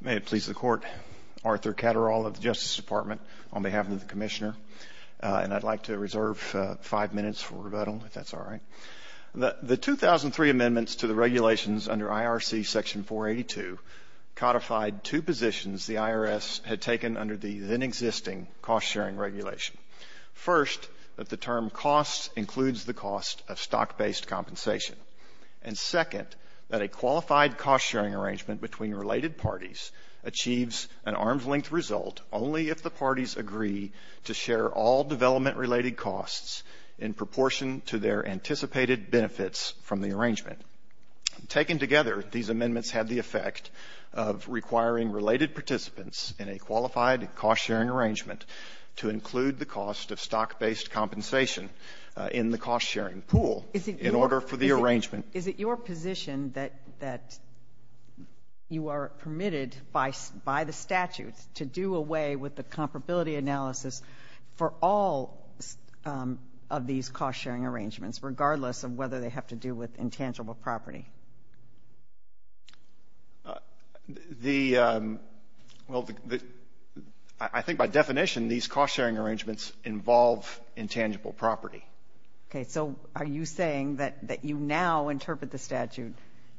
May it please the Court, Arthur Caderall of the Justice Department, on behalf of the Commissioner, and I'd like to reserve five minutes for rebuttal, if that's all right. The 2003 amendments to the regulations under IRC Section 482 codified two positions the IRS had taken under the then-existing cost-sharing regulation. First, that the term cost includes the cost of stock-based compensation, and second, that a qualified cost-sharing arrangement between related parties achieves an arm's-length result only if the parties agree to share all development-related costs in proportion to their anticipated benefits from the arrangement. Taken together, these amendments had the effect of requiring related participants in a qualified cost-sharing arrangement to include the cost of stock-based compensation in the cost-sharing pool in order for the arrangement to occur. Is it your position that you are permitted by the statutes to do away with the comparability analysis for all of these cost-sharing arrangements, regardless of whether they have to do with intangible property? I think by definition, these cost-sharing arrangements involve intangible property. So are you saying that you now interpret the statute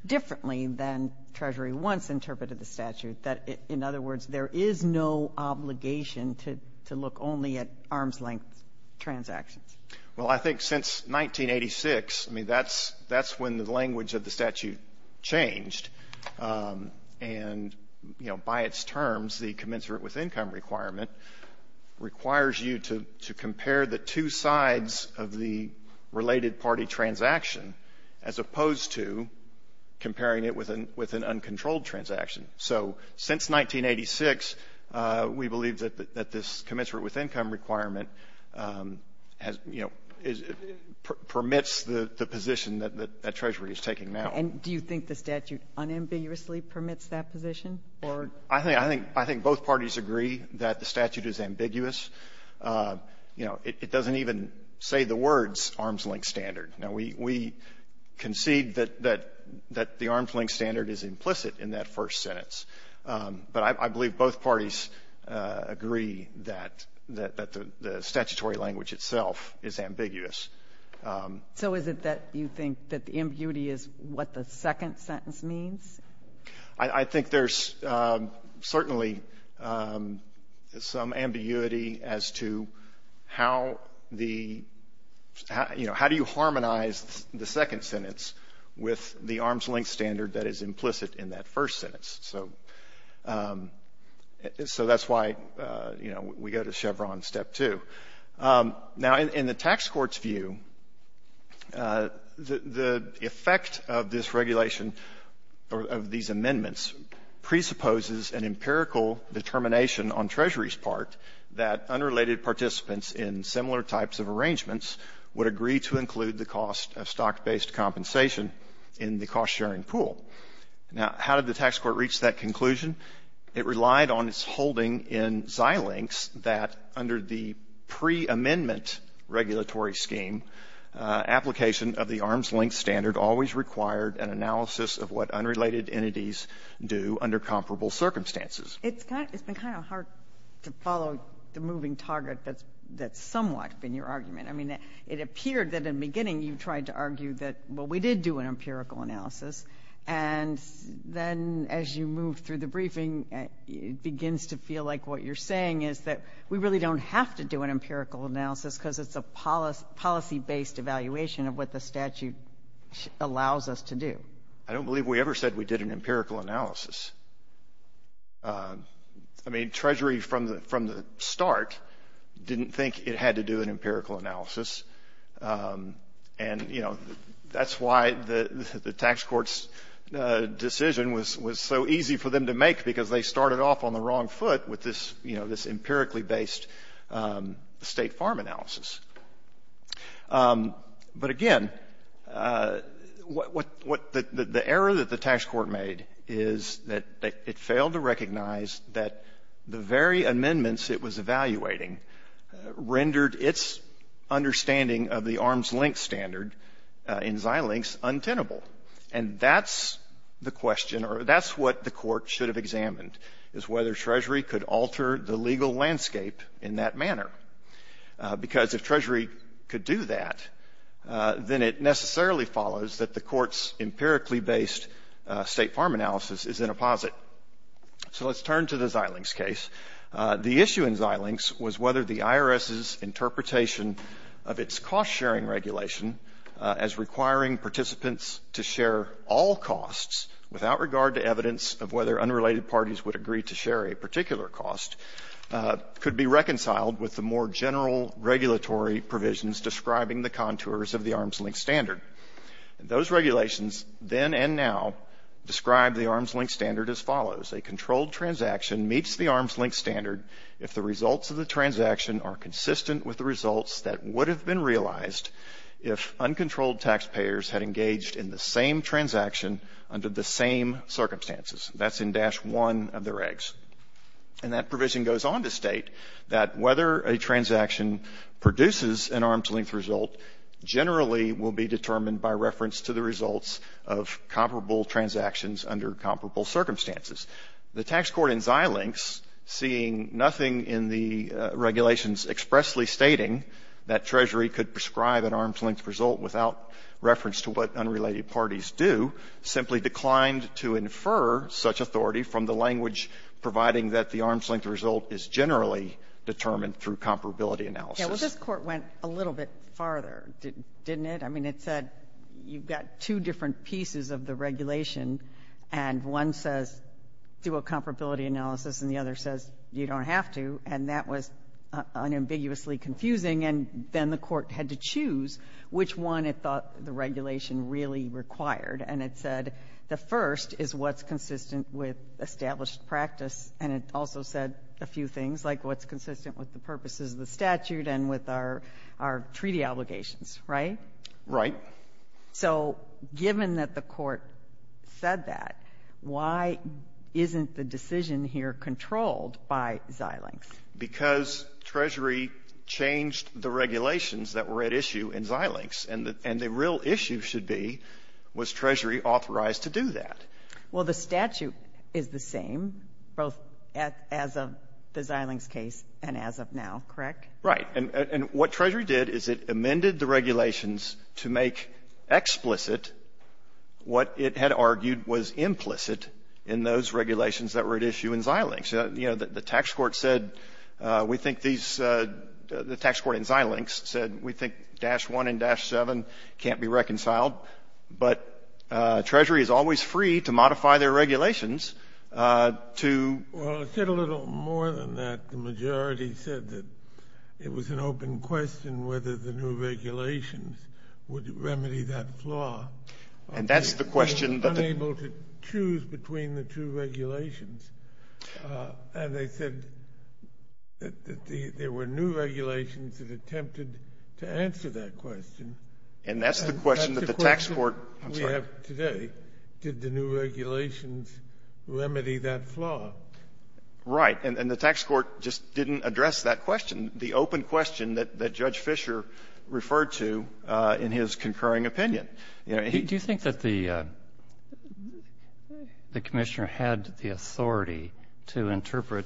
differently than Treasury once interpreted the statute, that, in other words, there is no obligation to look only at arm's-length transactions? Well, I think since 1986, I mean, that's when the language of the statute changed, and by its terms, the commensurate with income requirement requires you to compare the two sides of the related party transaction as opposed to comparing it with an uncontrolled transaction. So since 1986, we believe that this commensurate with income requirement has, you know, permits the position that Treasury is taking now. And do you think the statute unambiguously permits that position? I think both parties agree that the statute is ambiguous. You know, it doesn't even say the words arm's-length standard. Now, we concede that the arm's-length standard is implicit in that first sentence, but I believe both parties agree that the statutory language itself is ambiguous. So is it that you think that the ambiguity is what the second sentence means? I think there's certainly some ambiguity as to how the, you know, how do you harmonize the second sentence with the arm's-length standard that is implicit in that first sentence? So that's why, you know, we go to Chevron step two. Now, in the tax court's view, the effect of this regulation of these amendments presupposes an empirical determination on Treasury's part that unrelated participants in similar types of arrangements would agree to include the cost of stock-based compensation in the cost-sharing pool. Now, how did the tax court reach that conclusion? It relied on its holding in Xilinx that under the pre-amendment regulatory scheme, application of the arm's-length standard always required an analysis of what unrelated entities do under comparable circumstances. It's been kind of hard to follow the moving target that's somewhat been your argument. I mean, it appeared that in the beginning you tried to argue that, well, we did do an It begins to feel like what you're saying is that we really don't have to do an empirical analysis because it's a policy-based evaluation of what the statute allows us to do. I don't believe we ever said we did an empirical analysis. I mean, Treasury from the start didn't think it had to do an empirical analysis, and, you know, the tax court's decision was so easy for them to make because they started off on the wrong foot with this, you know, this empirically-based state farm analysis. But again, the error that the tax court made is that it failed to recognize that the very amendments it was evaluating rendered its understanding of the arm's-length standard in Xilinx untenable. And that's the question, or that's what the court should have examined, is whether Treasury could alter the legal landscape in that manner. Because if Treasury could do that, then it necessarily follows that the court's empirically-based state farm analysis is in a posit. So let's turn to the Xilinx case. The issue in Xilinx was whether the IRS's interpretation of its cost-sharing regulation as requiring participants to share all costs without regard to evidence of whether unrelated parties would agree to share a particular cost could be reconciled with the more general regulatory provisions describing the contours of the arm's-length standard. Those regulations then and now describe the arm's-length standard as follows. A controlled transaction meets the arm's-length standard if the results of the transaction are consistent with the results that would have been realized if uncontrolled taxpayers had engaged in the same transaction under the same circumstances. That's in dash one of their regs. And that provision goes on to state that whether a transaction produces an arm's-length result generally will be determined by reference to the results of comparable transactions under comparable circumstances. The tax court in Xilinx, seeing nothing in the regulations expressly stating that Treasury could prescribe an arm's-length result without reference to what unrelated parties do, simply declined to infer such authority from the language providing that the arm's-length result is generally determined through comparability analysis. Yeah, well, this court went a little bit farther, didn't it? It said you've got two different pieces of the regulation and one says do a comparability analysis and the other says you don't have to and that was unambiguously confusing and then the court had to choose which one it thought the regulation really required. And it said the first is what's consistent with established practice and it also said a few things like what's consistent with the purposes of the statute and with our treaty obligations, right? Right. So given that the court said that, why isn't the decision here controlled by Xilinx? Because Treasury changed the regulations that were at issue in Xilinx and the real issue should be was Treasury authorized to do that? Well, the statute is the same both as of the Xilinx case and as of now, correct? Right. And what Treasury did is it amended the regulations to make explicit what it had argued was implicit in those regulations that were at issue in Xilinx. You know, the tax court said we think these, the tax court in Xilinx said we think dash one and dash seven can't be reconciled, but Treasury is always free to modify their regulations to... Well, it said a little more than that. The majority said that it was an open question whether the new regulations would remedy that flaw. And that's the question... They were unable to choose between the two regulations. And they said that there were new regulations that attempted to answer that question. And that's the question that the tax court... Did the new regulations remedy that flaw? Right. And the tax court just didn't address that question. The open question that Judge Fisher referred to in his concurring opinion. Do you think that the commissioner had the authority to interpret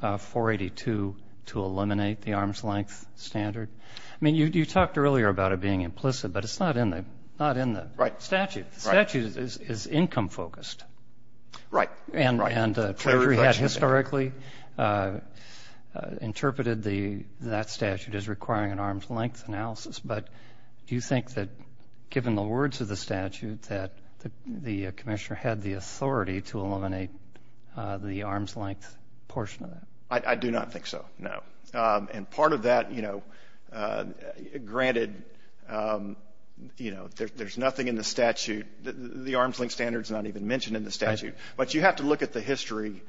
482 to eliminate the arm's length standard? I mean, you talked earlier about it being implicit, but it's not in the statute. The statute is income focused. Right. And Treasury had historically interpreted that statute as requiring an arm's length analysis. But do you think that given the words of the statute that the commissioner had the authority to eliminate the arm's length portion of that? I do not think so, no. And part of that, granted, there's nothing in the statute. The arm's length standard is not even mentioned in the statute. But you have to look at the history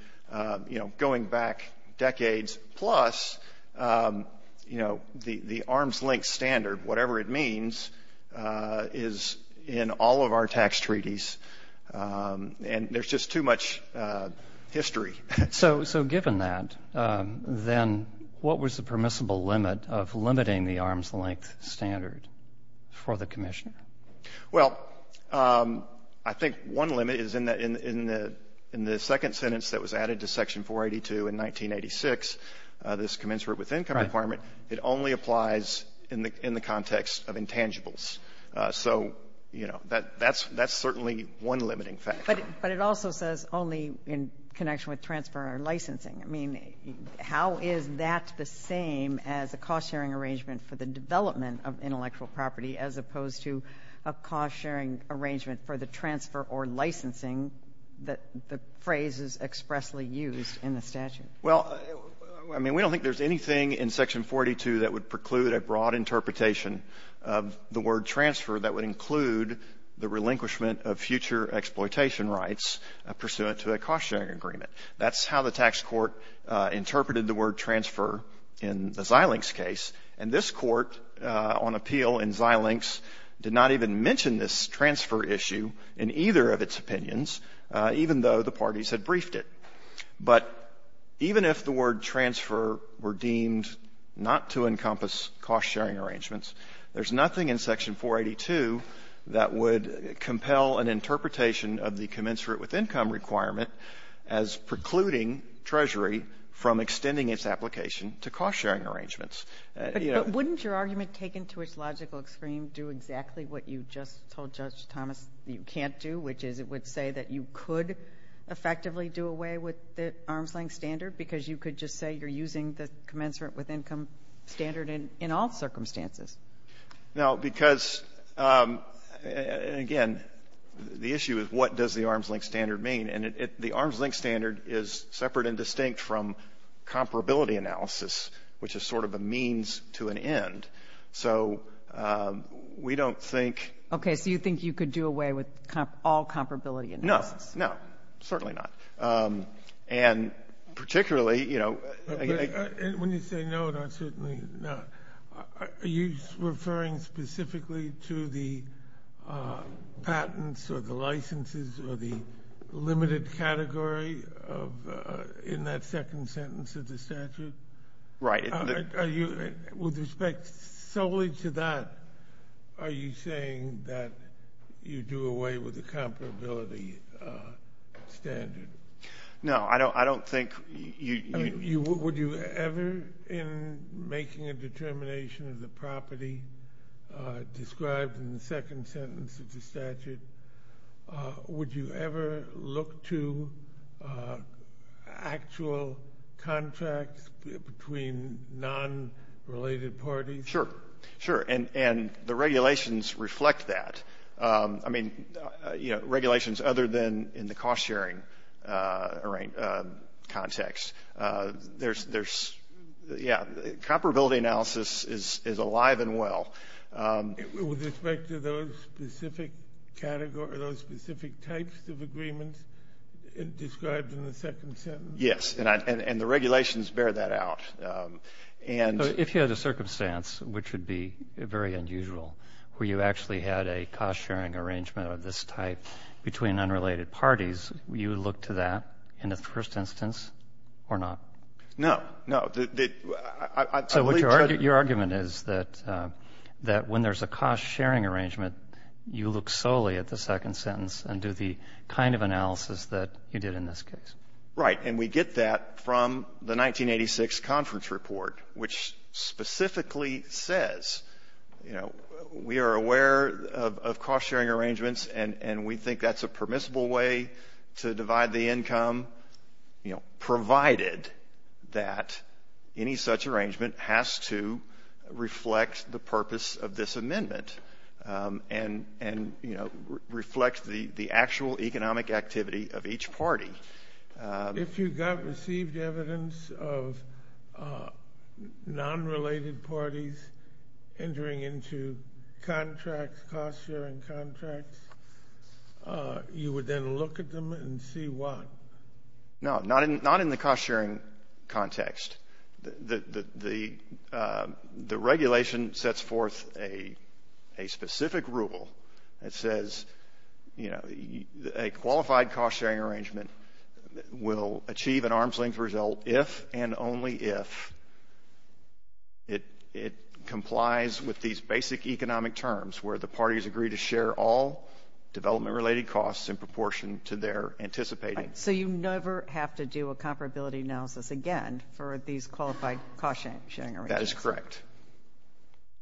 going back decades. Plus, the arm's length standard, whatever it means, is in all of our tax treaties. And there's just too much history. So given that, then what was the permissible limit of limiting the arm's length standard for the commissioner? Well, I think one limit is in the second sentence that was added to Section 482 in 1986, this commensurate with income requirement, it only applies in the context of intangibles. So, you know, that's certainly one limiting factor. But it also says only in connection with transfer or licensing. I mean, how is that the same as a cost-sharing arrangement for the development of intellectual property as opposed to a cost-sharing arrangement for the transfer or licensing that the phrase is expressly used in the statute? Well, I mean, we don't think there's anything in Section 42 that would preclude a broad interpretation of the word transfer that would include the relinquishment of future exploitation rights pursuant to a cost-sharing agreement. That's how the tax court interpreted the word transfer in the Xilinx case. And this court on appeal in Xilinx did not even mention this transfer issue in either of its opinions, even though the parties had briefed it. But even if the word transfer were deemed not to encompass cost-sharing arrangements, there's nothing in Section 482 that would compel an interpretation of the commensurate with income requirement as precluding Treasury from extending its application to cost-sharing arrangements. But wouldn't your argument taken to its logical extreme do exactly what you just told Judge Thomas you can't do, which is it would say that you could effectively do away with the arm's-length standard because you could just say you're using the commensurate with income standard in all circumstances? No, because, again, the issue is what does the arm's-length standard mean? And the arm's-length standard is separate and distinct from comparability analysis, which is sort of a means to an end. So we don't think... Okay. So you think you could do away with all comparability analysis? No, no, certainly not. And particularly, you know... When you say no, no, certainly not, are you referring specifically to the patents or the licenses or the limited category in that second sentence of the statute? Right. With respect solely to that, are you saying that you do away with the comparability standard? No, I don't think... Would you ever, in making a determination of the property described in the second sentence of the statute, would you ever look to actual contracts between non-related parties? Sure, sure. And the regulations reflect that. I mean, you know, regulations other than in the cost-sharing context. There's... Yeah, comparability analysis is alive and well. With respect to those specific categories, those specific types of agreements described in the second sentence? Yes, and the regulations bear that out. And... If you had a circumstance which would be very unusual, where you actually had a cost-sharing arrangement of this type between unrelated parties, would you look to that in the first instance or not? No, no. Your argument is that when there's a cost-sharing arrangement, you look solely at the second sentence and do the kind of analysis that you did in this case. Right, and we get that from the 1986 conference report, which specifically says, you know, we are aware of cost-sharing arrangements and we think that's a permissible way to divide the income, you know, provided that any such arrangement has to reflect the purpose of this amendment and, you know, reflect the actual economic activity of each party. If you got received evidence of non-related parties entering into contracts, cost-sharing contracts, you would then look at them and see why? No, not in the cost-sharing context. The regulation sets forth a specific rule that says, you know, a qualified cost-sharing arrangement will achieve an arm's-length result if and only if it complies with these basic economic terms where the parties agree to share all development-related costs in proportion to their anticipating. So you never have to do a comparability analysis again for these qualified cost-sharing arrangements? That is correct.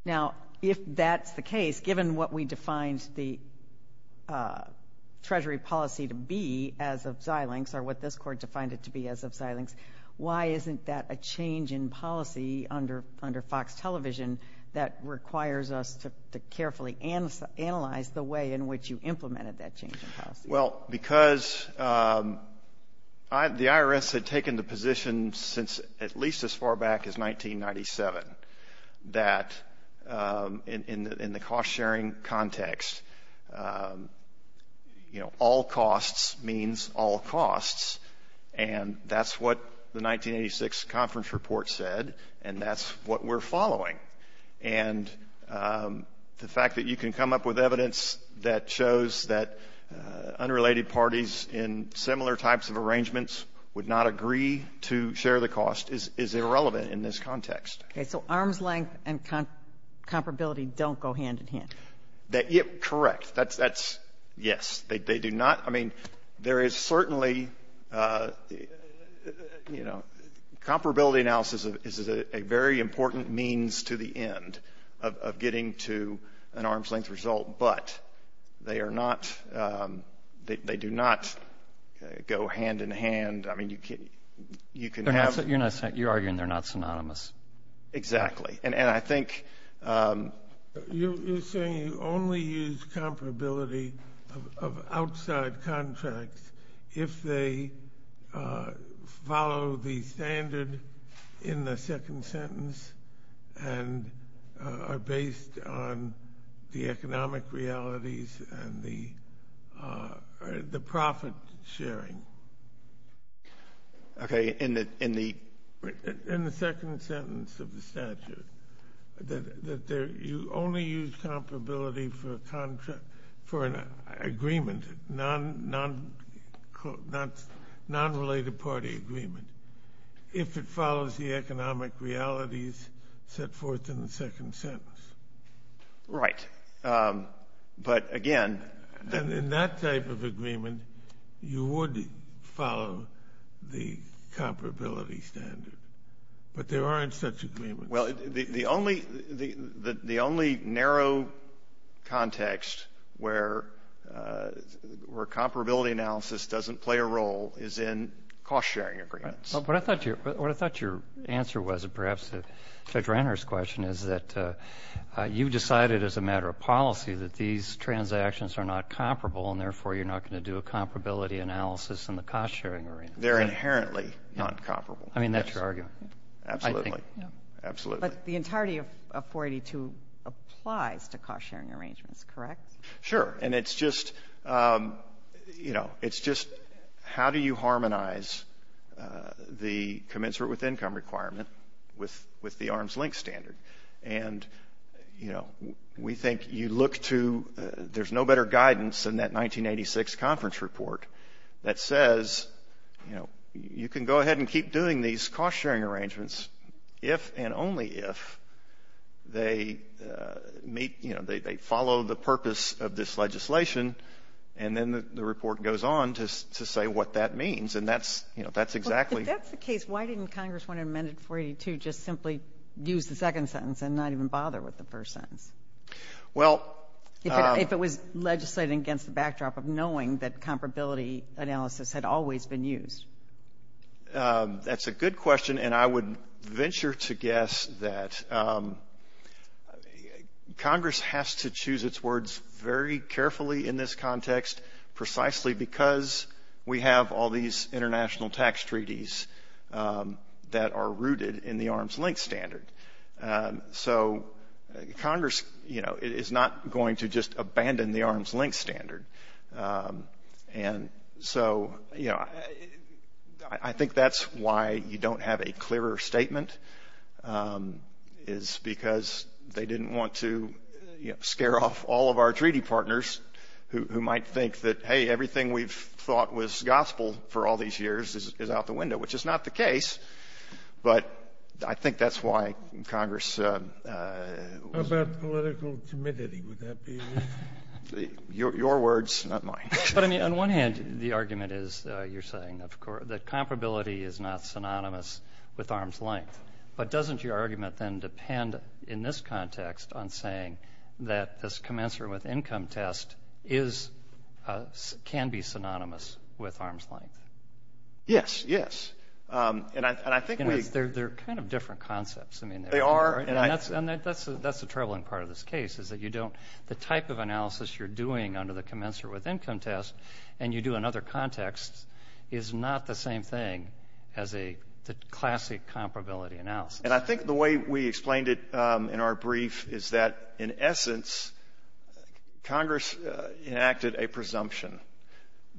Now, if that's the case, given what we defined the Treasury policy to be as of Xilinx, or what this Court defined it to be as of Xilinx, why isn't that a change in policy under Fox Television that requires us to carefully analyze the way in which you implemented that change in policy? Well, because the IRS had taken the position since at least as far back as 1997 that in the cost-sharing context, you know, all costs means all costs. And that's what the 1986 conference report said. And that's what we're following. And the fact that you can come up with evidence that shows that unrelated parties in similar types of arrangements would not agree to share the cost is irrelevant in this context. Okay. So arm's-length and comparability don't go hand in hand? Correct. That's yes. They do not. I mean, there is certainly, you know, comparability analysis is a very important means to the end of getting to an arm's-length result. But they are not, they do not go hand in hand. I mean, you can have... You're arguing they're not synonymous. Exactly. And I think... You're saying you only use comparability of outside contracts if they follow the standard in the second sentence and are based on the economic realities and the profit sharing. Okay. In the second sentence of the statute, that you only use comparability for an agreement, non-related party agreement. If it follows the economic realities set forth in the second sentence. Right. But again... Then in that type of agreement, you would follow the comparability standard. But there aren't such agreements. Well, the only narrow context where comparability analysis doesn't play a role is in cost-sharing agreements. Well, what I thought your answer was, perhaps to Judge Renner's question, is that you decided as a matter of policy that these transactions are not comparable and therefore you're not going to do a comparability analysis in the cost-sharing. They're inherently not comparable. I mean, that's your argument. Absolutely. But the entirety of 482 applies to cost-sharing arrangements, correct? Sure. And it's just, you know, it's just how do you harmonize the commensurate with income requirement with the arms link standard? And, you know, we think you look to... There's no better guidance than that 1986 conference report that says, you know, you can go ahead and keep doing these cost-sharing arrangements if and only if they meet, you know, they follow the purpose of this legislation. And then the report goes on to say what that means. And that's, you know, that's exactly... If that's the case, why didn't Congress want to amend 482 just simply use the second sentence and not even bother with the first sentence? Well... If it was legislated against the backdrop of knowing that comparability analysis had always been used. That's a good question. And I would venture to guess that Congress has to choose its words very carefully in this context, precisely because we have all these international tax treaties that are rooted in the arms link standard. So Congress, you know, is not going to just abandon the arms link standard. And so, you know, I think that's why you don't have a clearer statement is because they didn't want to scare off all of our treaty partners who might think that, hey, everything we've thought was gospel for all these years is out the window, which is not the case. But I think that's why Congress... How about political timidity? Would that be... Your words, not mine. But I mean, on one hand, the argument is you're saying, of course, that comparability is not synonymous with arm's length. But doesn't your argument then depend in this context on saying that this commensurate with income test is... can be synonymous with arm's length? Yes, yes. And I think we... They're kind of different concepts. I mean, they are. And that's the troubling part of this case is that you don't... Your analysis you're doing under the commensurate with income test, and you do another context is not the same thing as a classic comparability analysis. And I think the way we explained it in our brief is that, in essence, Congress enacted a presumption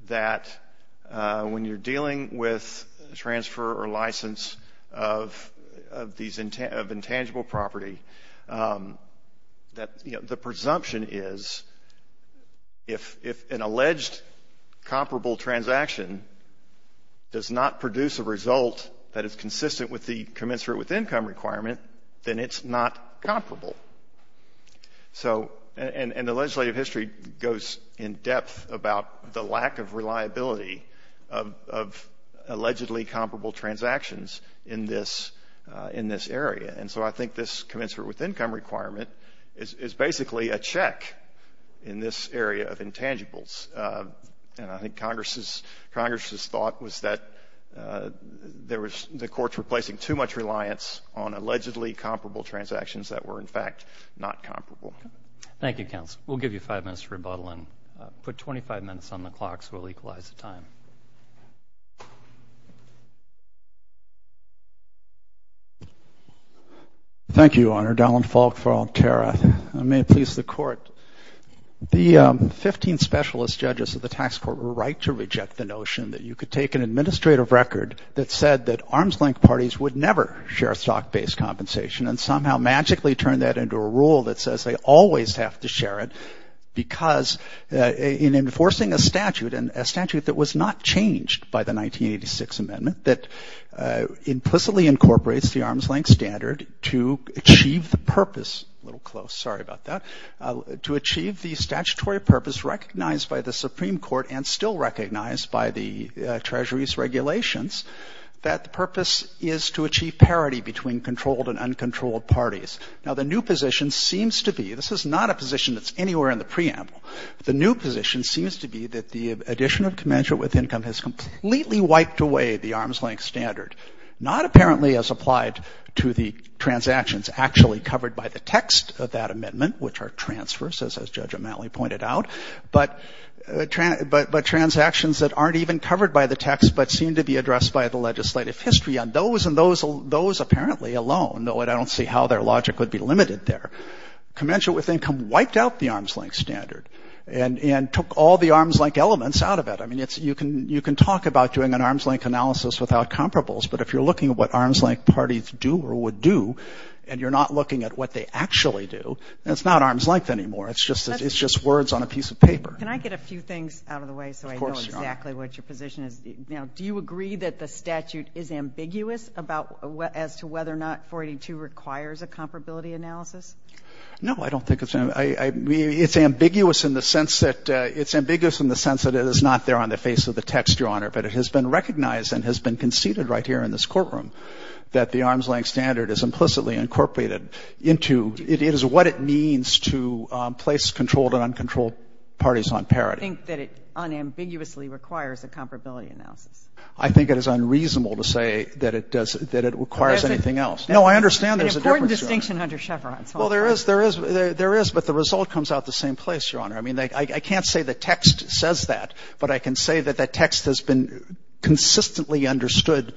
that when you're dealing with transfer or license of intangible property, that the presumption is if an alleged comparable transaction does not produce a result that is consistent with the commensurate with income requirement, then it's not comparable. So, and the legislative history goes in depth about the lack of reliability of allegedly comparable transactions in this area. And so I think this commensurate with income requirement is basically a check in this area of intangibles. And I think Congress's thought was that there was... The courts were placing too much reliance on allegedly comparable transactions that were, in fact, not comparable. Thank you, counsel. We'll give you five minutes to rebuttal and put 25 minutes on the clock, so we'll equalize the time. Thank you, Your Honor. Dallin Falk for Altera. I may please the court. The 15 specialist judges of the tax court were right to reject the notion that you could take an administrative record that said that arms-length parties would never share stock-based compensation and somehow magically turn that into a rule that says they always have to share it because in enforcing a statute, and a statute that was not changed by the 1986 amendment, that implicitly incorporates the arms-length standard to achieve the purpose, a little close, sorry about that, to achieve the statutory purpose recognized by the Supreme Court and still recognized by the Treasury's regulations, that the purpose is to achieve parity between controlled and uncontrolled parties. Now, the new position seems to be... Not a position that's anywhere in the preamble. The new position seems to be that the addition of commensurate with income has completely wiped away the arms-length standard, not apparently as applied to the transactions actually covered by the text of that amendment, which are transfers, as Judge O'Malley pointed out, but transactions that aren't even covered by the text but seem to be addressed by the legislative history on those and those apparently alone, though I don't see how their logic would be limited there. Commensurate with income wiped out the arms-length standard and took all the arms-length elements out of it. I mean, you can talk about doing an arms-length analysis without comparables, but if you're looking at what arms-length parties do or would do and you're not looking at what they actually do, it's not arms-length anymore. It's just words on a piece of paper. Can I get a few things out of the way so I know exactly what your position is? Now, do you agree that the statute is ambiguous as to whether or not 482 requires a comparability analysis? No, I don't think it's ambiguous. It's ambiguous in the sense that it is not there on the face of the text, Your Honor, but it has been recognized and has been conceded right here in this courtroom that the arms-length standard is implicitly incorporated into, it is what it means to place controlled and uncontrolled parties on parity. I think that it unambiguously requires a comparability analysis. I think it is unreasonable to say that it does, that it requires anything else. No, I understand there's a difference. An important distinction under Chevron. Well, there is, there is, there is, but the result comes out the same place, Your Honor. I mean, I can't say the text says that, but I can say that the text has been consistently understood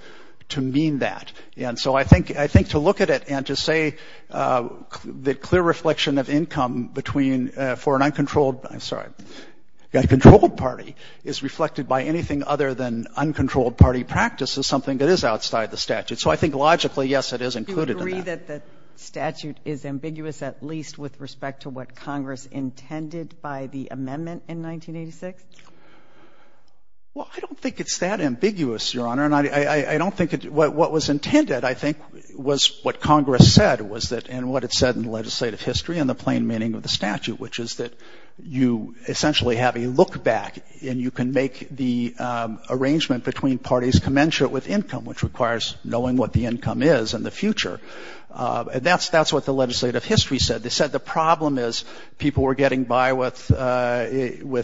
to mean that. And so I think, I think to look at it and to say that clear reflection of income between, for an uncontrolled, I'm sorry, a controlled party is reflected by anything other than uncontrolled party practice is something that is outside the statute. So I think logically, yes, it is included in that. But I don't think the statute is ambiguous, at least with respect to what Congress intended by the amendment in 1986. Well, I don't think it's that ambiguous, Your Honor. And I don't think it, what was intended, I think, was what Congress said was that, and what it said in legislative history and the plain meaning of the statute, which is that you essentially have a look-back and you can make the arrangement between parties commensurate with income, which requires knowing what the income is in the future. And that's what the legislative history said. They said the problem is people were getting by with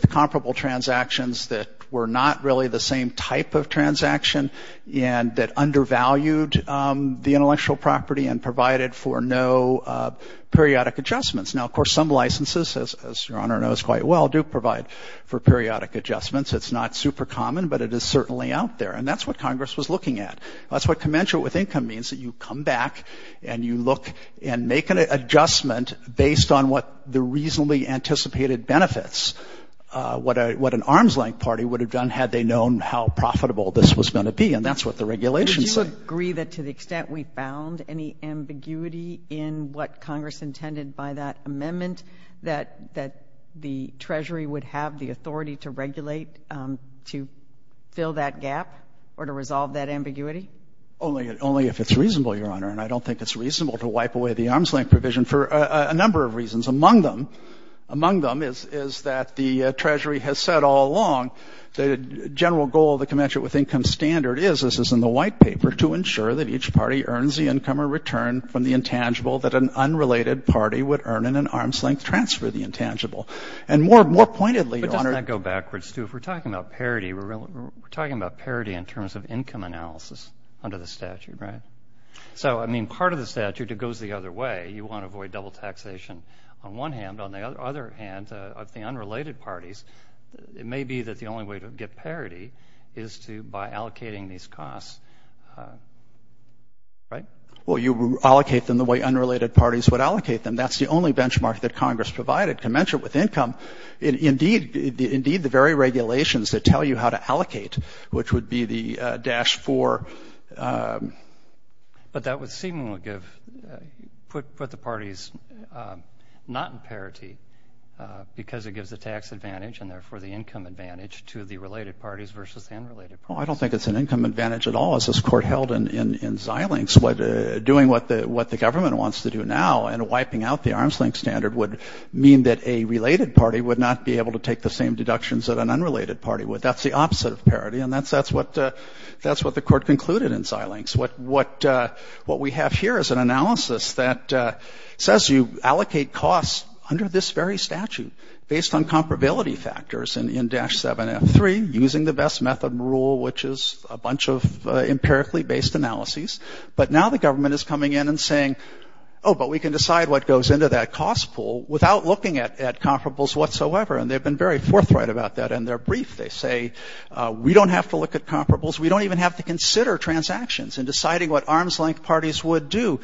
comparable transactions that were not really the same type of transaction and that undervalued the intellectual property and provided for no periodic adjustments. Now, of course, some licenses, as Your Honor knows quite well, do provide for periodic adjustments. It's not super common, but it is certainly out there. And that's what Congress was looking at. That's what commensurate with income means, that you come back and you look and make an adjustment based on what the reasonably anticipated benefits, what an arm's-length party would have done had they known how profitable this was going to be. And that's what the regulation said. Do you agree that to the extent we found any ambiguity in what Congress intended by that amendment, that the Treasury would have the authority to regulate, to fill that gap or to resolve that ambiguity? Only if it's reasonable, Your Honor. And I don't think it's reasonable to wipe away the arm's-length provision for a number of reasons. Among them is that the Treasury has said all along the general goal of the commensurate with income standard is, as is in the White Paper, to ensure that each party earns the income or return from the intangible that an unrelated party would earn in an arm's-length transfer of the intangible. And more pointedly, Your Honor — But doesn't that go backwards, too? If we're talking about parity, we're talking about parity in terms of income analysis under the statute, right? So, I mean, part of the statute, it goes the other way. You want to avoid double taxation on one hand. On the other hand, of the unrelated parties, it may be that the only way to get parity is by allocating these costs, right? Well, you allocate them the way unrelated parties would allocate them. That's the only benchmark that Congress provided. Commensurate with income, indeed, the very regulations that tell you how to allocate, which would be the Dash 4 — But that would seemingly give — put the parties not in parity because it gives the tax advantage and, therefore, the income advantage to the related parties versus the unrelated parties. Well, I don't think it's an income advantage at all, as this Court held in Xilinx. Doing what the government wants to do now and wiping out the arm's-length standard would mean that a related party would not be able to take the same deductions that an unrelated party would. That's the opposite of parity, and that's what the Court concluded in Xilinx. What we have here is an analysis that says you allocate costs under this very statute based on comparability factors in Dash 7F3, using the best method rule, which is a bunch of empirically-based analyses. But now the government is coming in and saying, oh, but we can decide what goes into that cost pool without looking at comparables whatsoever. And they've been very forthright about that in their brief. They say, we don't have to look at comparables. We don't even have to consider transactions in deciding what arm's-length parties would do.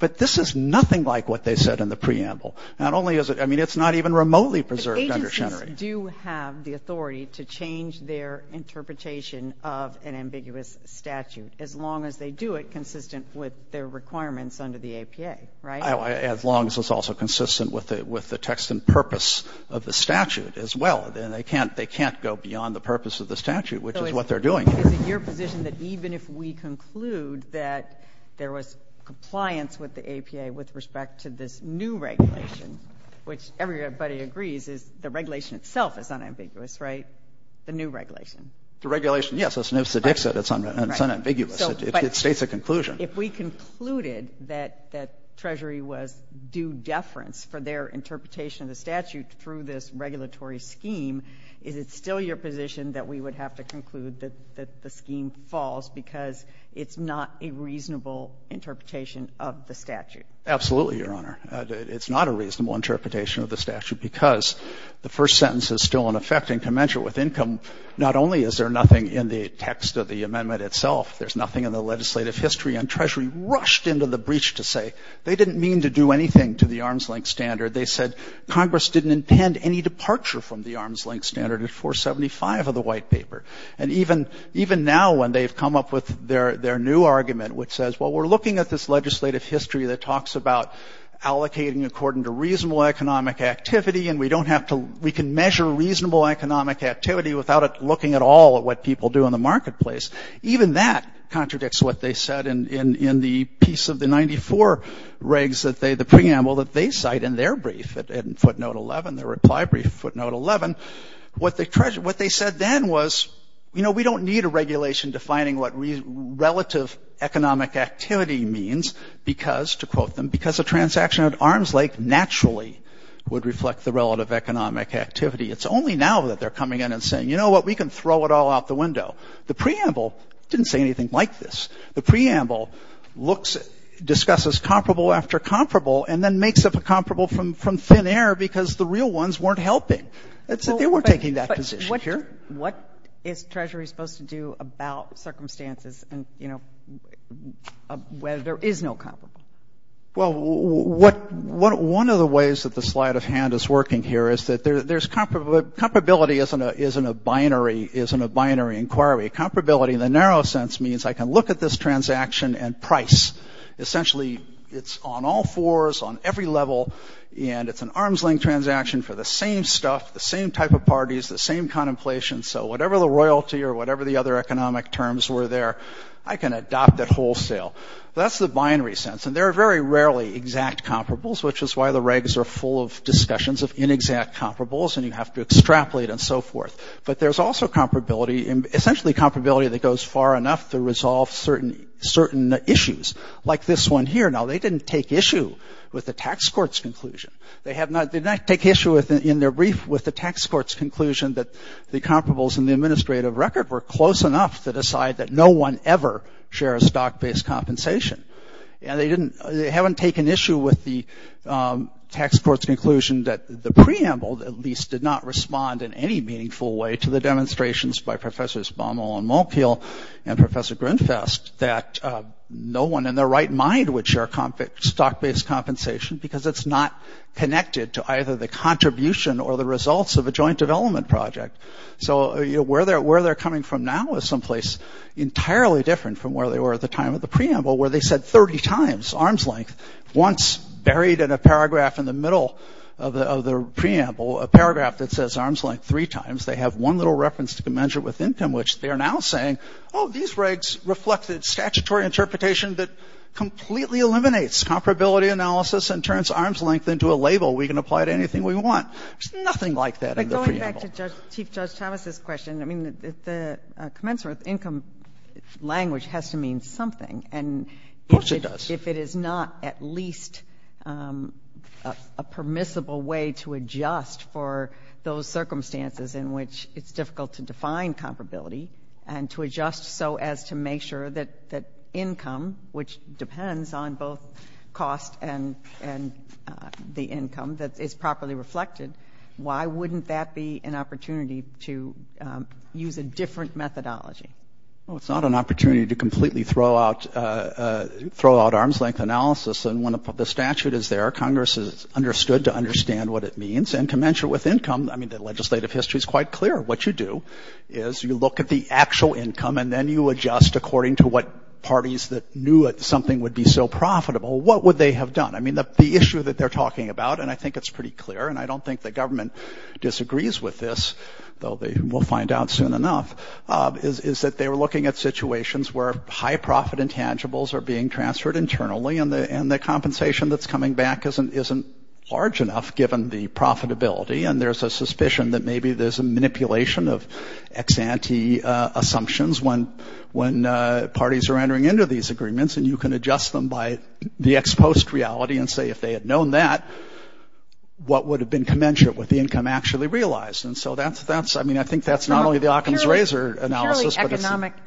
But this is nothing like what they said in the preamble. Not only is it — I mean, it's not even remotely preserved under Schenery. But agencies do have the authority to change their interpretation of an ambiguous statute, as long as they do it consistent with their requirements under the APA, right? As long as it's also consistent with the text and purpose of the statute as well. And they can't — they can't go beyond the purpose of the statute, which is what they're doing here. So is it your position that even if we conclude that there was compliance with the APA with respect to this new regulation, which everybody agrees is the regulation itself is unambiguous, right? The new regulation. The regulation, yes. It's an Ipsit-Dixit. It's unambiguous. It states a conclusion. If we concluded that Treasury was due deference for their interpretation of the statute through this regulatory scheme, is it still your position that we would have to conclude that the scheme falls because it's not a reasonable interpretation of the statute? Absolutely, Your Honor. It's not a reasonable interpretation of the statute because the first sentence is still in effect in commensurate with income. Not only is there nothing in the text of the amendment itself, there's nothing in the legislative history. And Treasury rushed into the breach to say they didn't mean to do anything to the arm's-length standard. They said Congress didn't intend any departure from the arm's-length standard at 475 of the white paper. And even now, when they've come up with their new argument, which says, well, we're looking at this legislative history that talks about allocating according to reasonable economic activity, and we don't have to — we can measure reasonable economic activity without looking at all at what people do in the marketplace. Even that contradicts what they said in the piece of the 94 regs that they — the preamble that they cite in their brief, in footnote 11, their reply brief, footnote 11. What they said then was, you know, we don't need a regulation defining what relative economic activity means because, to quote them, because a transaction at arm's-length naturally would reflect the relative economic activity. It's only now that they're coming in and saying, you know what, we can throw it all out the window. The preamble didn't say anything like this. The preamble looks — discusses comparable after comparable and then makes up a comparable from thin air because the real ones weren't helping. It's that they weren't taking that position here. But what is Treasury supposed to do about circumstances and, you know, where there is no comparable? Well, what — one of the ways that the sleight of hand is working here is that there's — comparability isn't a binary inquiry. Comparability in the narrow sense means I can look at this transaction and price. Essentially, it's on all fours, on every level, and it's an arm's-length transaction for the same stuff, the same type of parties, the same contemplation. So whatever the royalty or whatever the other economic terms were there, I can adopt it wholesale. That's the binary sense. And there are very rarely exact comparables, which is why the regs are full of inexact comparables and you have to extrapolate and so forth. But there's also comparability — essentially comparability that goes far enough to resolve certain issues, like this one here. Now, they didn't take issue with the tax court's conclusion. They have not — they didn't take issue in their brief with the tax court's conclusion that the comparables in the administrative record were close enough to decide that no one ever shares stock-based compensation. And they didn't — they haven't taken issue with the preamble that at least did not respond in any meaningful way to the demonstrations by Professors Baumol and Malkiel and Professor Grunfest that no one in their right mind would share stock-based compensation because it's not connected to either the contribution or the results of a joint development project. So where they're coming from now is someplace entirely different from where they were at the time of the preamble, where they said 30 times arm's length, once buried in a paragraph in the middle of the — of the preamble, a paragraph that says arm's length three times, they have one little reference to commensurate with income, which they are now saying, oh, these regs reflect the statutory interpretation that completely eliminates comparability analysis and turns arm's length into a label we can apply to anything we want. There's nothing like that in the preamble. But going back to Chief Judge Thomas's question, I mean, the commensurate income language has to mean something. Of course it does. If it is not at least a permissible way to adjust for those circumstances in which it's difficult to define comparability and to adjust so as to make sure that income, which depends on both cost and the income, that is properly reflected, why wouldn't that be an opportunity to use a different methodology? Well, it's not an opportunity to completely throw out arm's length analysis. And when the statute is there, Congress is understood to understand what it means. And commensurate with income, I mean, the legislative history is quite clear. What you do is you look at the actual income and then you adjust according to what parties that knew something would be so profitable. What would they have done? I mean, the issue that they're talking about, and I think it's pretty clear, and I don't think the government disagrees with this, though they will find out soon enough, is that they were looking at situations where high profit intangibles are being transferred internally and the compensation that's coming back isn't large enough given the profitability. And there's a suspicion that maybe there's a manipulation of ex-ante assumptions when parties are entering into these agreements and you can adjust them by the ex-post reality and say if they had known that, what would have been commensurate with the income actually realized? And so that's, I mean, I think that's not only the Occam's Razor analysis, but it's- From a purely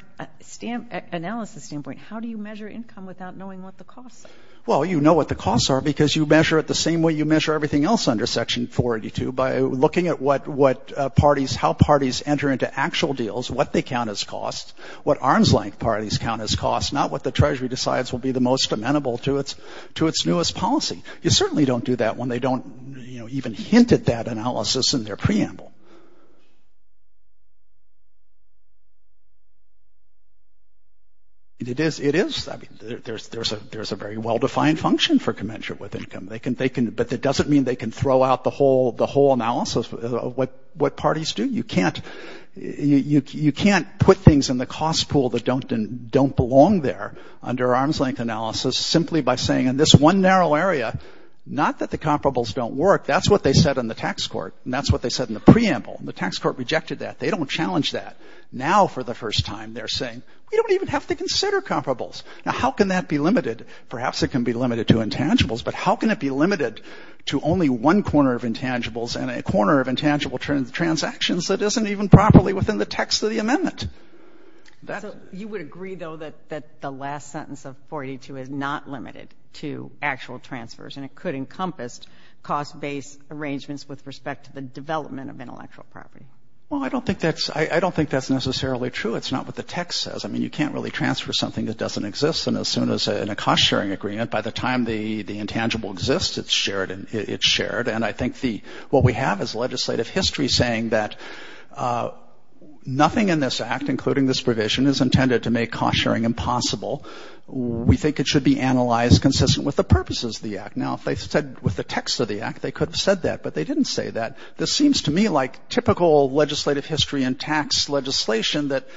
economic analysis standpoint, how do you measure income without knowing what the costs are? Well, you know what the costs are because you measure it the same way you measure everything else under Section 482 by looking at what parties, how parties enter into actual deals, what they count as costs, what arms-length parties count as costs, not what the Treasury decides will be the most amenable to its newest policy. You certainly don't do that when they don't, you know, even hint at that analysis in their preamble. It is, I mean, there's a very well-defined function for commensurate with income. But that doesn't mean they can throw out the whole analysis of what parties do. You can't put things in the cost pool that don't belong there under arms-length analysis simply by saying in this one narrow area, not that the comparables don't work. That's what they said in the tax court. And that's what they said in the preamble. The tax court rejected that. They don't challenge that. Now, for the first time, they're saying, we don't even have to consider comparables. Now, how can that be limited? Perhaps it can be limited to intangibles, but how can it be limited to only one corner of intangibles and a corner of intangible transactions that isn't even properly within the text of the amendment? So you would agree, though, that the last sentence of 482 is not limited to actual transfers, and it could encompass cost-based arrangements with respect to the development of intellectual property. Well, I don't think that's necessarily true. It's not what the text says. I mean, you can't really transfer something that doesn't exist. And as soon as in a cost-sharing agreement, by the time the intangible exists, it's shared. And I think what we have is legislative history saying that nothing in this act, including this provision, is intended to make cost-sharing impossible. We think it should be analyzed consistent with the purposes of the act. Now, if they said with the text of the act, they could have said that, but they didn't say that. This seems to me like typical legislative history and tax legislation that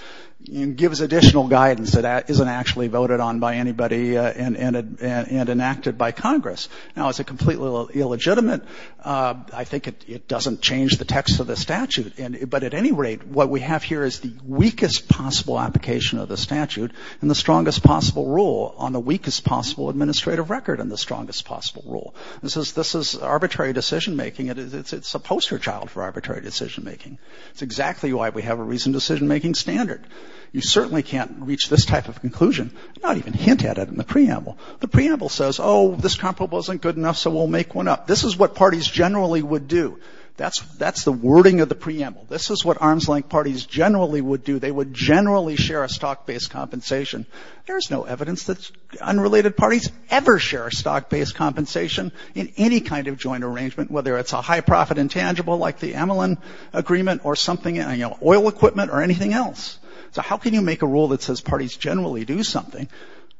gives additional guidance that isn't actually voted on by anybody and enacted by Congress. Now, it's completely illegitimate. I think it doesn't change the text of the statute. But at any rate, what we have here is the weakest possible application of the statute and the strongest possible rule on the weakest possible administrative record and the strongest possible rule. This is arbitrary decision-making. It's a poster child for arbitrary decision-making. It's exactly why we have a reason decision-making standard. You certainly can't reach this type of conclusion, not even hint at it in the preamble. The preamble says, oh, this complaint wasn't good enough, so we'll make one up. This is what parties generally would do. That's the wording of the preamble. This is what arms-length parties generally would do. They would generally share a stock-based compensation. There is no evidence that unrelated parties ever share a stock-based compensation in any kind of joint arrangement, whether it's a high-profit intangible like the Amelin Agreement or something, oil equipment or anything else. So how can you make a rule that says parties generally do something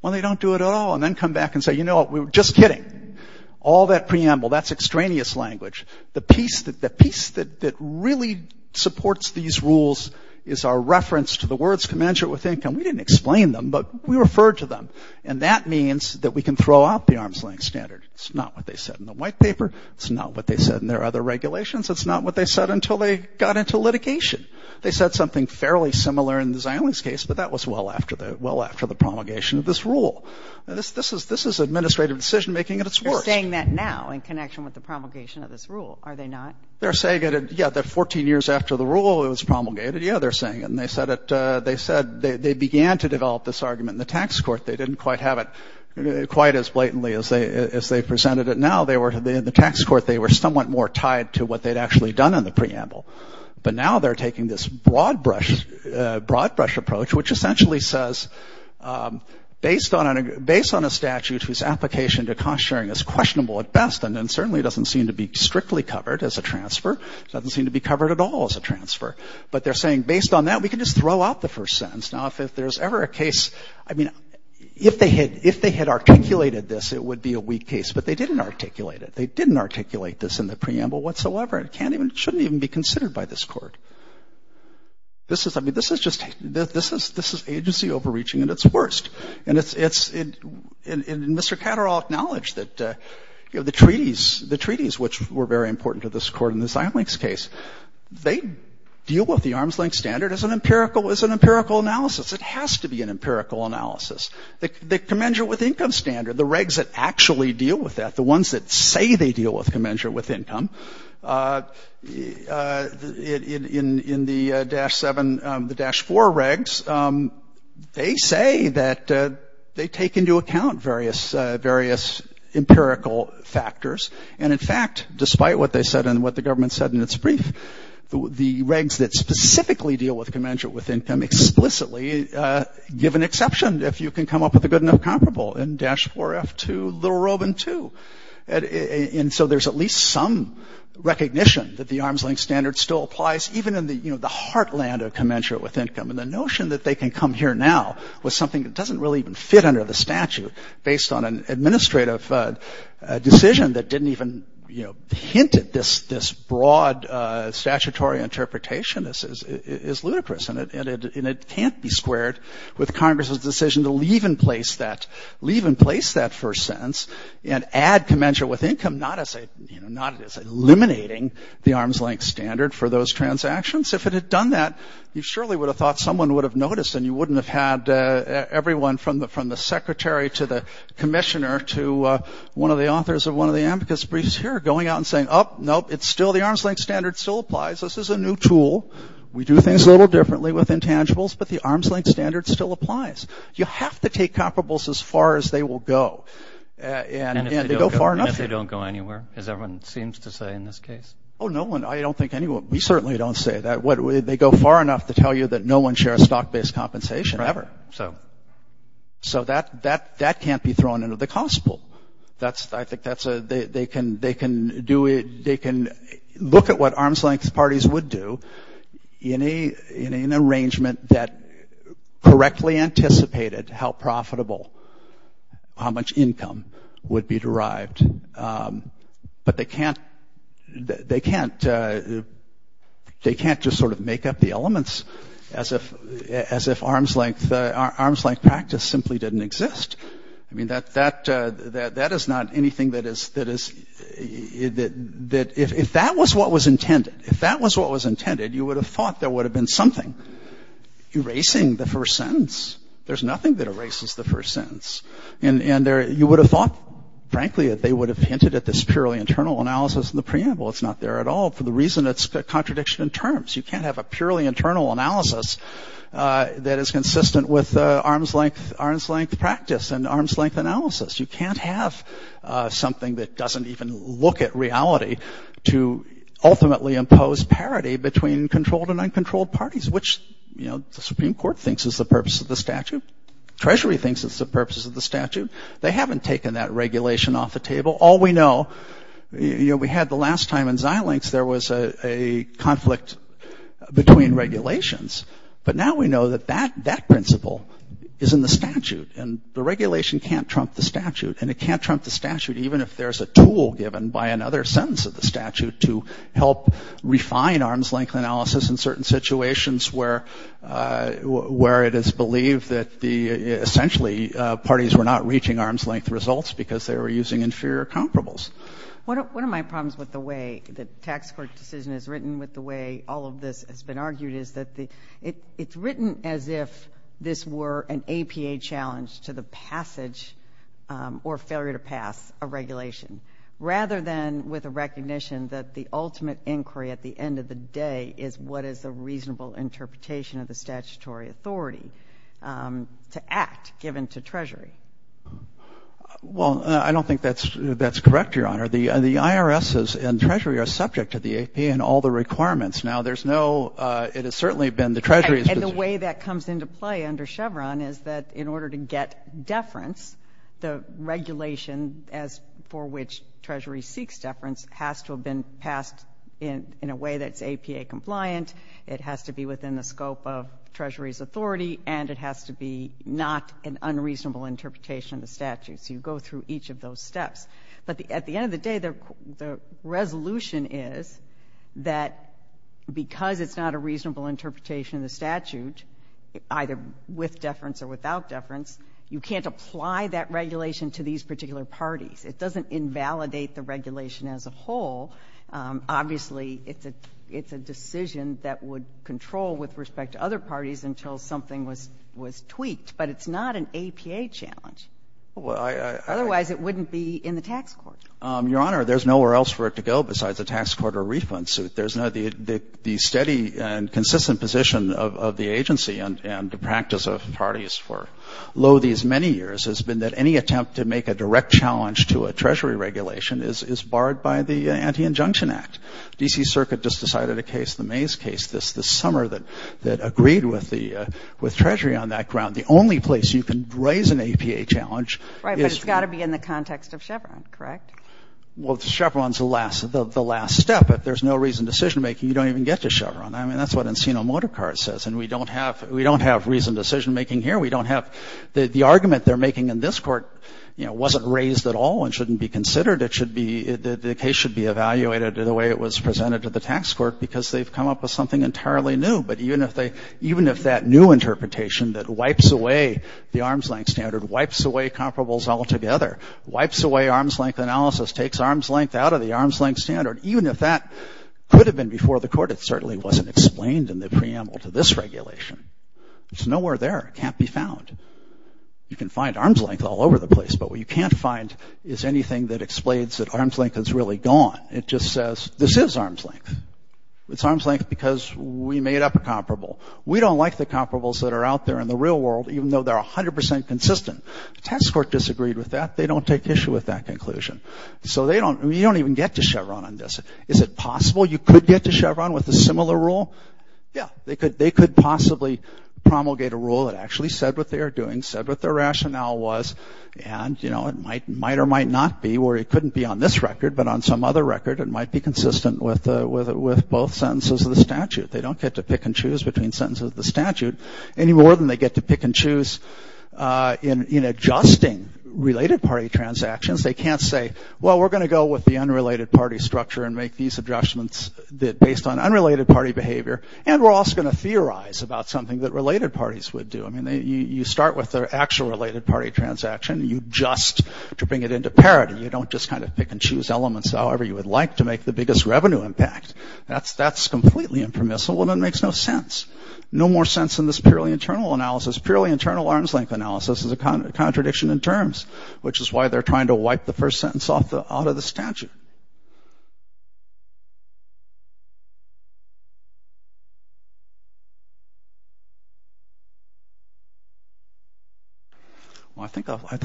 when they don't do it at all and then come back and say, you know what, we were just kidding. All that preamble, that's extraneous language. The piece that really supports these rules is our reference to the words commensurate with income. We didn't explain them, but we referred to them. And that means that we can throw out the arms-length standard. It's not what they said in the white paper. It's not what they said in their other regulations. It's not what they said until they got into litigation. They said something fairly similar in the Zionist case, but that was well after the promulgation of this rule. This is administrative decision-making at its worst. They're saying that now in connection with the promulgation of this rule, are they not? They're saying it, yeah, that 14 years after the rule it was promulgated. Yeah, they're saying it. And they said they began to develop this argument in the tax court. They didn't quite have it quite as blatantly as they presented it now. They were, in the tax court, they were somewhat more tied to what they'd actually done in the preamble. But now they're taking this broad brush approach, which essentially says, based on a statute whose application to cost-sharing is questionable at best and then certainly doesn't seem to be strictly covered as a transfer, doesn't seem to be covered at all as a transfer. But they're saying, based on that, we can just throw out the first sentence. Now, if there's ever a case, I mean, if they had articulated this, it would be a weak case. But they didn't articulate it. They didn't articulate this in the preamble whatsoever. It can't even, shouldn't even be considered by this court. This is, I mean, this is just, this is agency overreaching at its worst. And it's, and Mr. Catterall acknowledged that, you know, the treaties, the treaties, which were very important to this court in the Seimlich's case, they deal with the arm's-length standard as an empirical, as an empirical analysis. It has to be an empirical analysis. The commensurate with income standard, the regs that actually deal with that, the ones that say they deal with commensurate with income, in the Dash 7, the Dash 4 regs, they say that they take into account various, various empirical factors. And in fact, despite what they said and what the government said in its brief, the regs that specifically deal with commensurate with income explicitly give an exception if you can come up with a good enough comparable in Dash 4, F2, Little-Robin 2. And so there's at least some recognition that the arm's-length standard still applies even in the heartland of commensurate with income. And the notion that they can come here now with something that doesn't really even fit under the statute based on an administrative decision that didn't even, you know, hint at this broad statutory interpretation is ludicrous. And it can't be squared with Congress's decision to leave in place that, leave in place that first sentence and add commensurate with income, not as a, you know, not as eliminating the arm's-length standard for those transactions. If it had done that, you surely would have thought someone would have noticed and you wouldn't have had everyone from the secretary to the commissioner to one of the authors of one of the AMCAS briefs here going out and saying, oh, nope, it's still the arm's-length standard still applies. This is a new tool. We do things a little differently with intangibles, but the arm's-length standard still applies. You have to take comparables as far as they will go. And if they go far enough- And if they don't go anywhere, as everyone seems to say in this case? Oh, no one, I don't think anyone, we certainly don't say that. They go far enough to tell you that no one shares stock-based compensation ever. So that can't be thrown into the constable. I think that's a, they can do it, they can look at what arm's-length parties would do in an arrangement that correctly anticipated how profitable, how much income would be derived. But they can't just sort of make up the elements as if arm's-length practice simply didn't exist. I mean, that is not anything that is, that if that was what was intended, if that was what was intended, you would have thought there would have been something erasing the first sentence. There's nothing that erases the first sentence. And you would have thought, frankly, that they would have hinted at this purely internal analysis in the preamble. It's not there at all for the reason it's a contradiction in terms. You can't have a purely internal analysis that is consistent with arm's-length practice and arm's-length analysis. You can't have something that doesn't even look at reality to ultimately impose parity between controlled and uncontrolled parties, which the Supreme Court thinks is the purpose of the statute. Treasury thinks it's the purpose of the statute. They haven't taken that regulation off the table. All we know, we had the last time in Xilinx, there was a conflict between regulations, but now we know that that principle is in the statute and the regulation can't trump the statute and it can't trump the statute even if there's a tool given by another sentence of the statute to help refine arm's-length analysis in certain situations where it is believed that the, essentially, parties were not reaching arm's-length results because they were using inferior comparables. One of my problems with the way the tax court decision is written, with the way all of this has been argued, is that it's written as if this were an APA challenge to the passage or failure to pass a regulation, rather than with a recognition that the ultimate inquiry at the end of the day is what is a reasonable interpretation of the statutory authority to act given to Treasury. Well, I don't think that's correct, Your Honor. The IRS and Treasury are subject to the APA and all the requirements. Now, there's no... It has certainly been the Treasury's... And the way that comes into play under Chevron is that in order to get deference, the regulation as for which Treasury seeks deference has to have been passed in a way that's APA compliant, it has to be within the scope of Treasury's authority, and it has to be not an unreasonable interpretation of the statute. So you go through each of those steps. But at the end of the day, the resolution is that because it's not a reasonable interpretation of the statute, either with deference or without deference, you can't apply that regulation to these particular parties. It doesn't invalidate the regulation as a whole. Obviously, it's a decision that would control with respect to other parties until something was tweaked, but it's not an APA challenge. Well, I... Otherwise, it wouldn't be in the tax court. Your Honor, there's nowhere else for it to go besides a tax court or a refund suit. There's no... The steady and consistent position of the agency and the practice of parties for lo these many years has been that any attempt to make a direct challenge to a Treasury regulation is barred by the Anti-Injunction Act. D.C. Circuit just decided a case, the Mays case this summer that agreed with Treasury on that ground. The only place you can raise an APA challenge is... Right, but it's got to be in the context of Chevron, correct? Well, Chevron's the last step. If there's no reasoned decision-making, you don't even get to Chevron. I mean, that's what Encino-Motorcar says, and we don't have reasoned decision-making here. We don't have... The argument they're making in this court, you know, wasn't raised at all and shouldn't be considered. It should be... The case should be evaluated the way it was presented to the tax court because they've come up with something entirely new, even if that new interpretation that wipes away the arm's length standard, wipes away comparables altogether, wipes away arm's length analysis, takes arm's length out of the arm's length standard, even if that could have been before the court, it certainly wasn't explained in the preamble to this regulation. It's nowhere there. It can't be found. You can find arm's length all over the place, but what you can't find is anything that explains that arm's length is really gone. It just says, this is arm's length. It's arm's length because we made up a comparable. We don't like the comparables that are out there in the real world, even though they're 100% consistent. The tax court disagreed with that. They don't take issue with that conclusion. So they don't... You don't even get to Chevron on this. Is it possible you could get to Chevron with a similar rule? Yeah, they could possibly promulgate a rule that actually said what they are doing, said what their rationale was, and, you know, it might or might not be where it couldn't be on this record, but on some other record, it might be consistent with both sentences of the statute. They don't get to pick and choose between sentences of the statute any more than they get to pick and choose in adjusting related party transactions. They can't say, well, we're going to go with the unrelated party structure and make these adjustments based on unrelated party behavior, and we're also going to theorize about something that related parties would do. I mean, you start with the actual related party transaction. You just, to bring it into parity, you don't just kind of pick and choose elements however you would like to make the biggest revenue impact. That's completely impermissible, and it makes no sense. No more sense than this purely internal analysis. Purely internal arm's length analysis is a contradiction in terms, which is why they're trying to wipe the first sentence out of the statute. Well, I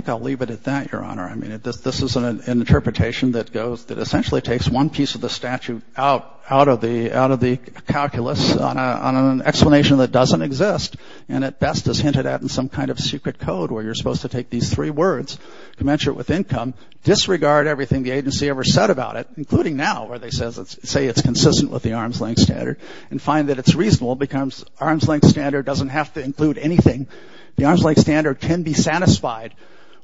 think I'll leave it at that, Your Honor. I mean, this is an interpretation that essentially takes one piece of the statute out of the calculus on an explanation that doesn't exist, and at best is hinted at in some kind of secret code where you're supposed to take these three words, commensurate with income, disregard everything the agency ever said about it, including now, where they say it's consistent with the arm's length standard and find that it's reasonable because arm's length standard doesn't have to include anything. The arm's length standard can be satisfied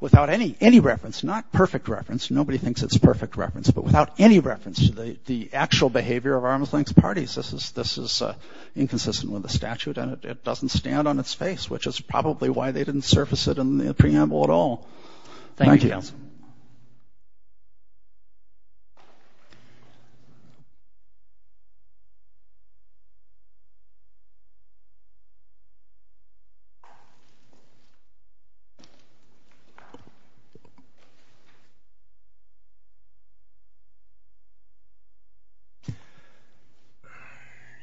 without any reference, not perfect reference. Nobody thinks it's perfect reference, but without any reference to the actual behavior of arm's length parties. This is inconsistent with the statute and it doesn't stand on its face, which is probably why they didn't surface it in the preamble at all. Thank you, counsel.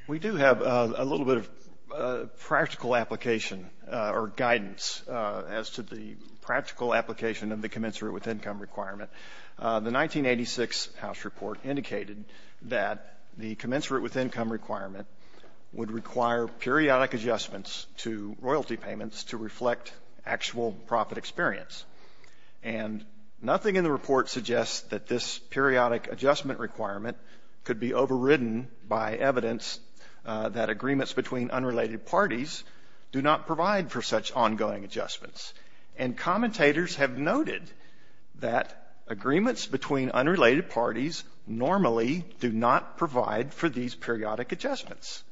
We do have a little bit of practical application or guidance as to the practical application of the commensurate with income requirement. The 1986 House report indicated that the commensurate with income requirement would require periodic adjustments to royalty payments to reflect actual profit experience. And nothing in the report suggests that this periodic adjustment requirement could be overridden by evidence that agreements between unrelated parties do not provide for such ongoing adjustments. And commentators have noted that agreements between unrelated parties normally do not provide for these periodic adjustments.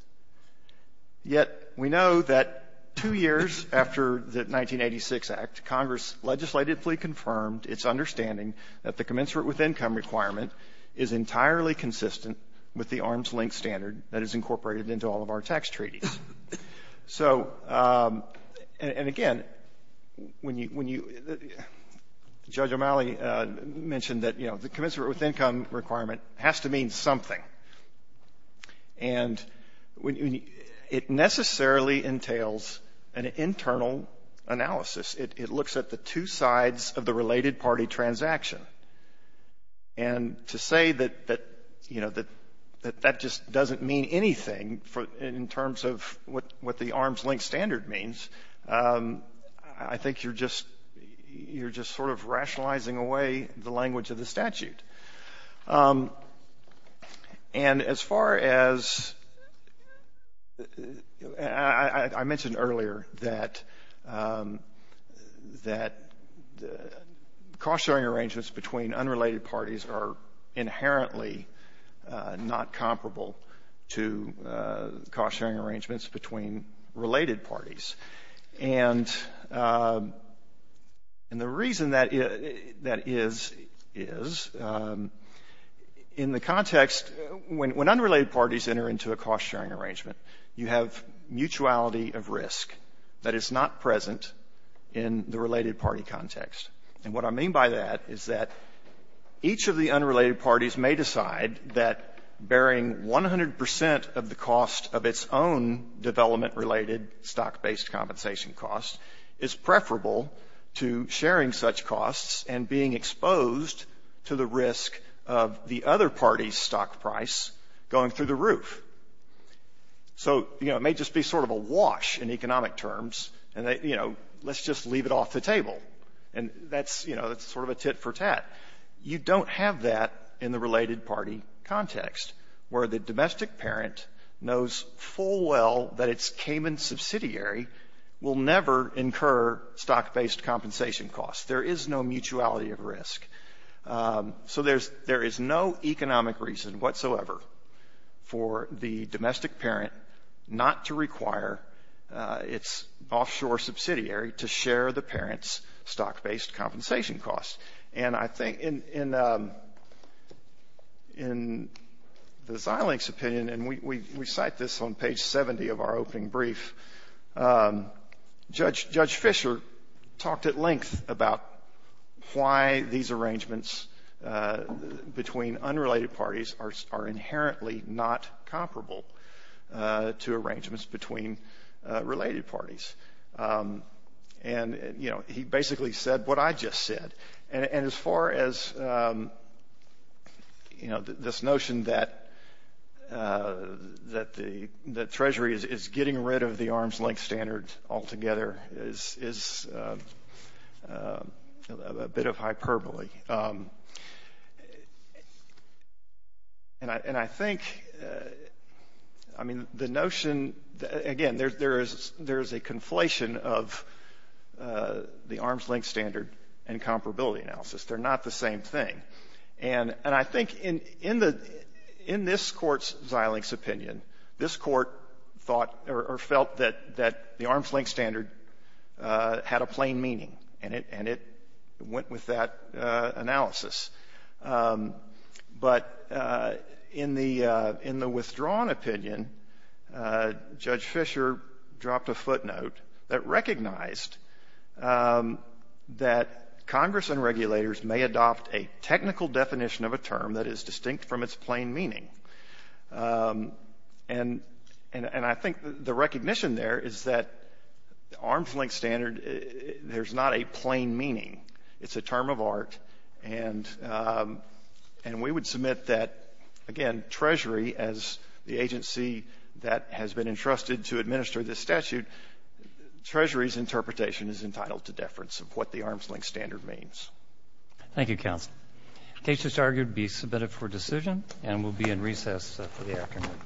Yet we know that two years after the 1986 Act, Congress legislatively confirmed its understanding that the commensurate with income requirement is entirely consistent with the arm's length standard that is incorporated into all of our tax treaties. So, and again, Judge O'Malley mentioned that the commensurate with income requirement has to mean something. And it necessarily entails an internal analysis. It looks at the two sides of the related party transaction. And to say that, you know, that that just doesn't mean anything in terms of what the arm's length standard means, I think you're just, you're just sort of rationalizing away the language of the statute. And as far as, I mentioned earlier that, that the cost-sharing arrangements between unrelated parties are inherently not comparable to cost-sharing arrangements between related parties. And, and the reason that is, is in the context, when unrelated parties enter into a cost-sharing arrangement, you have mutuality of risk that is not present in the related party context. And what I mean by that is that each of the unrelated parties may decide that bearing 100% of the cost of its own development-related stock-based compensation cost is preferable to sharing such costs and being exposed to the risk of the other party's stock price going through the roof. So, you know, it may just be sort of a wash in economic terms. And, you know, let's just leave it off the table. And that's, you know, that's sort of a tit for tat. You don't have that in the related party context, where the domestic parent knows full well that its Cayman subsidiary will never incur stock-based compensation costs. There is no mutuality of risk. So there's, there is no economic reason whatsoever for the domestic parent not to require its offshore subsidiary to share the parent's stock-based compensation costs. And I think in the Xilinx opinion, and we cite this on page 70 of our opening brief, Judge Fischer talked at length about why these arrangements between unrelated parties are inherently not comparable. Two arrangements between related parties. And, you know, he basically said what I just said. And as far as, you know, this notion that that the Treasury is getting rid of the arm's length standard altogether is a bit of hyperbole. And I think, I mean, the notion, again, there is a conflation of the arm's length standard and comparability analysis. They're not the same thing. And I think in this court's Xilinx opinion, this court thought or felt that the arm's length standard had a plain meaning and it went with that analysis. But in the withdrawn opinion, Judge Fischer dropped a footnote that recognized that Congress and regulators may adopt a technical definition of a term that is distinct from its plain meaning. And I think the recognition there is that the arm's length standard, there's not a plain meaning. It's a term of art. And we would submit that, again, Treasury as the agency that has been entrusted to administer this statute, Treasury's interpretation is entitled to deference of what the arm's length standard means. Thank you, counsel. The case is argued to be submitted for decision and will be in recess for the afternoon.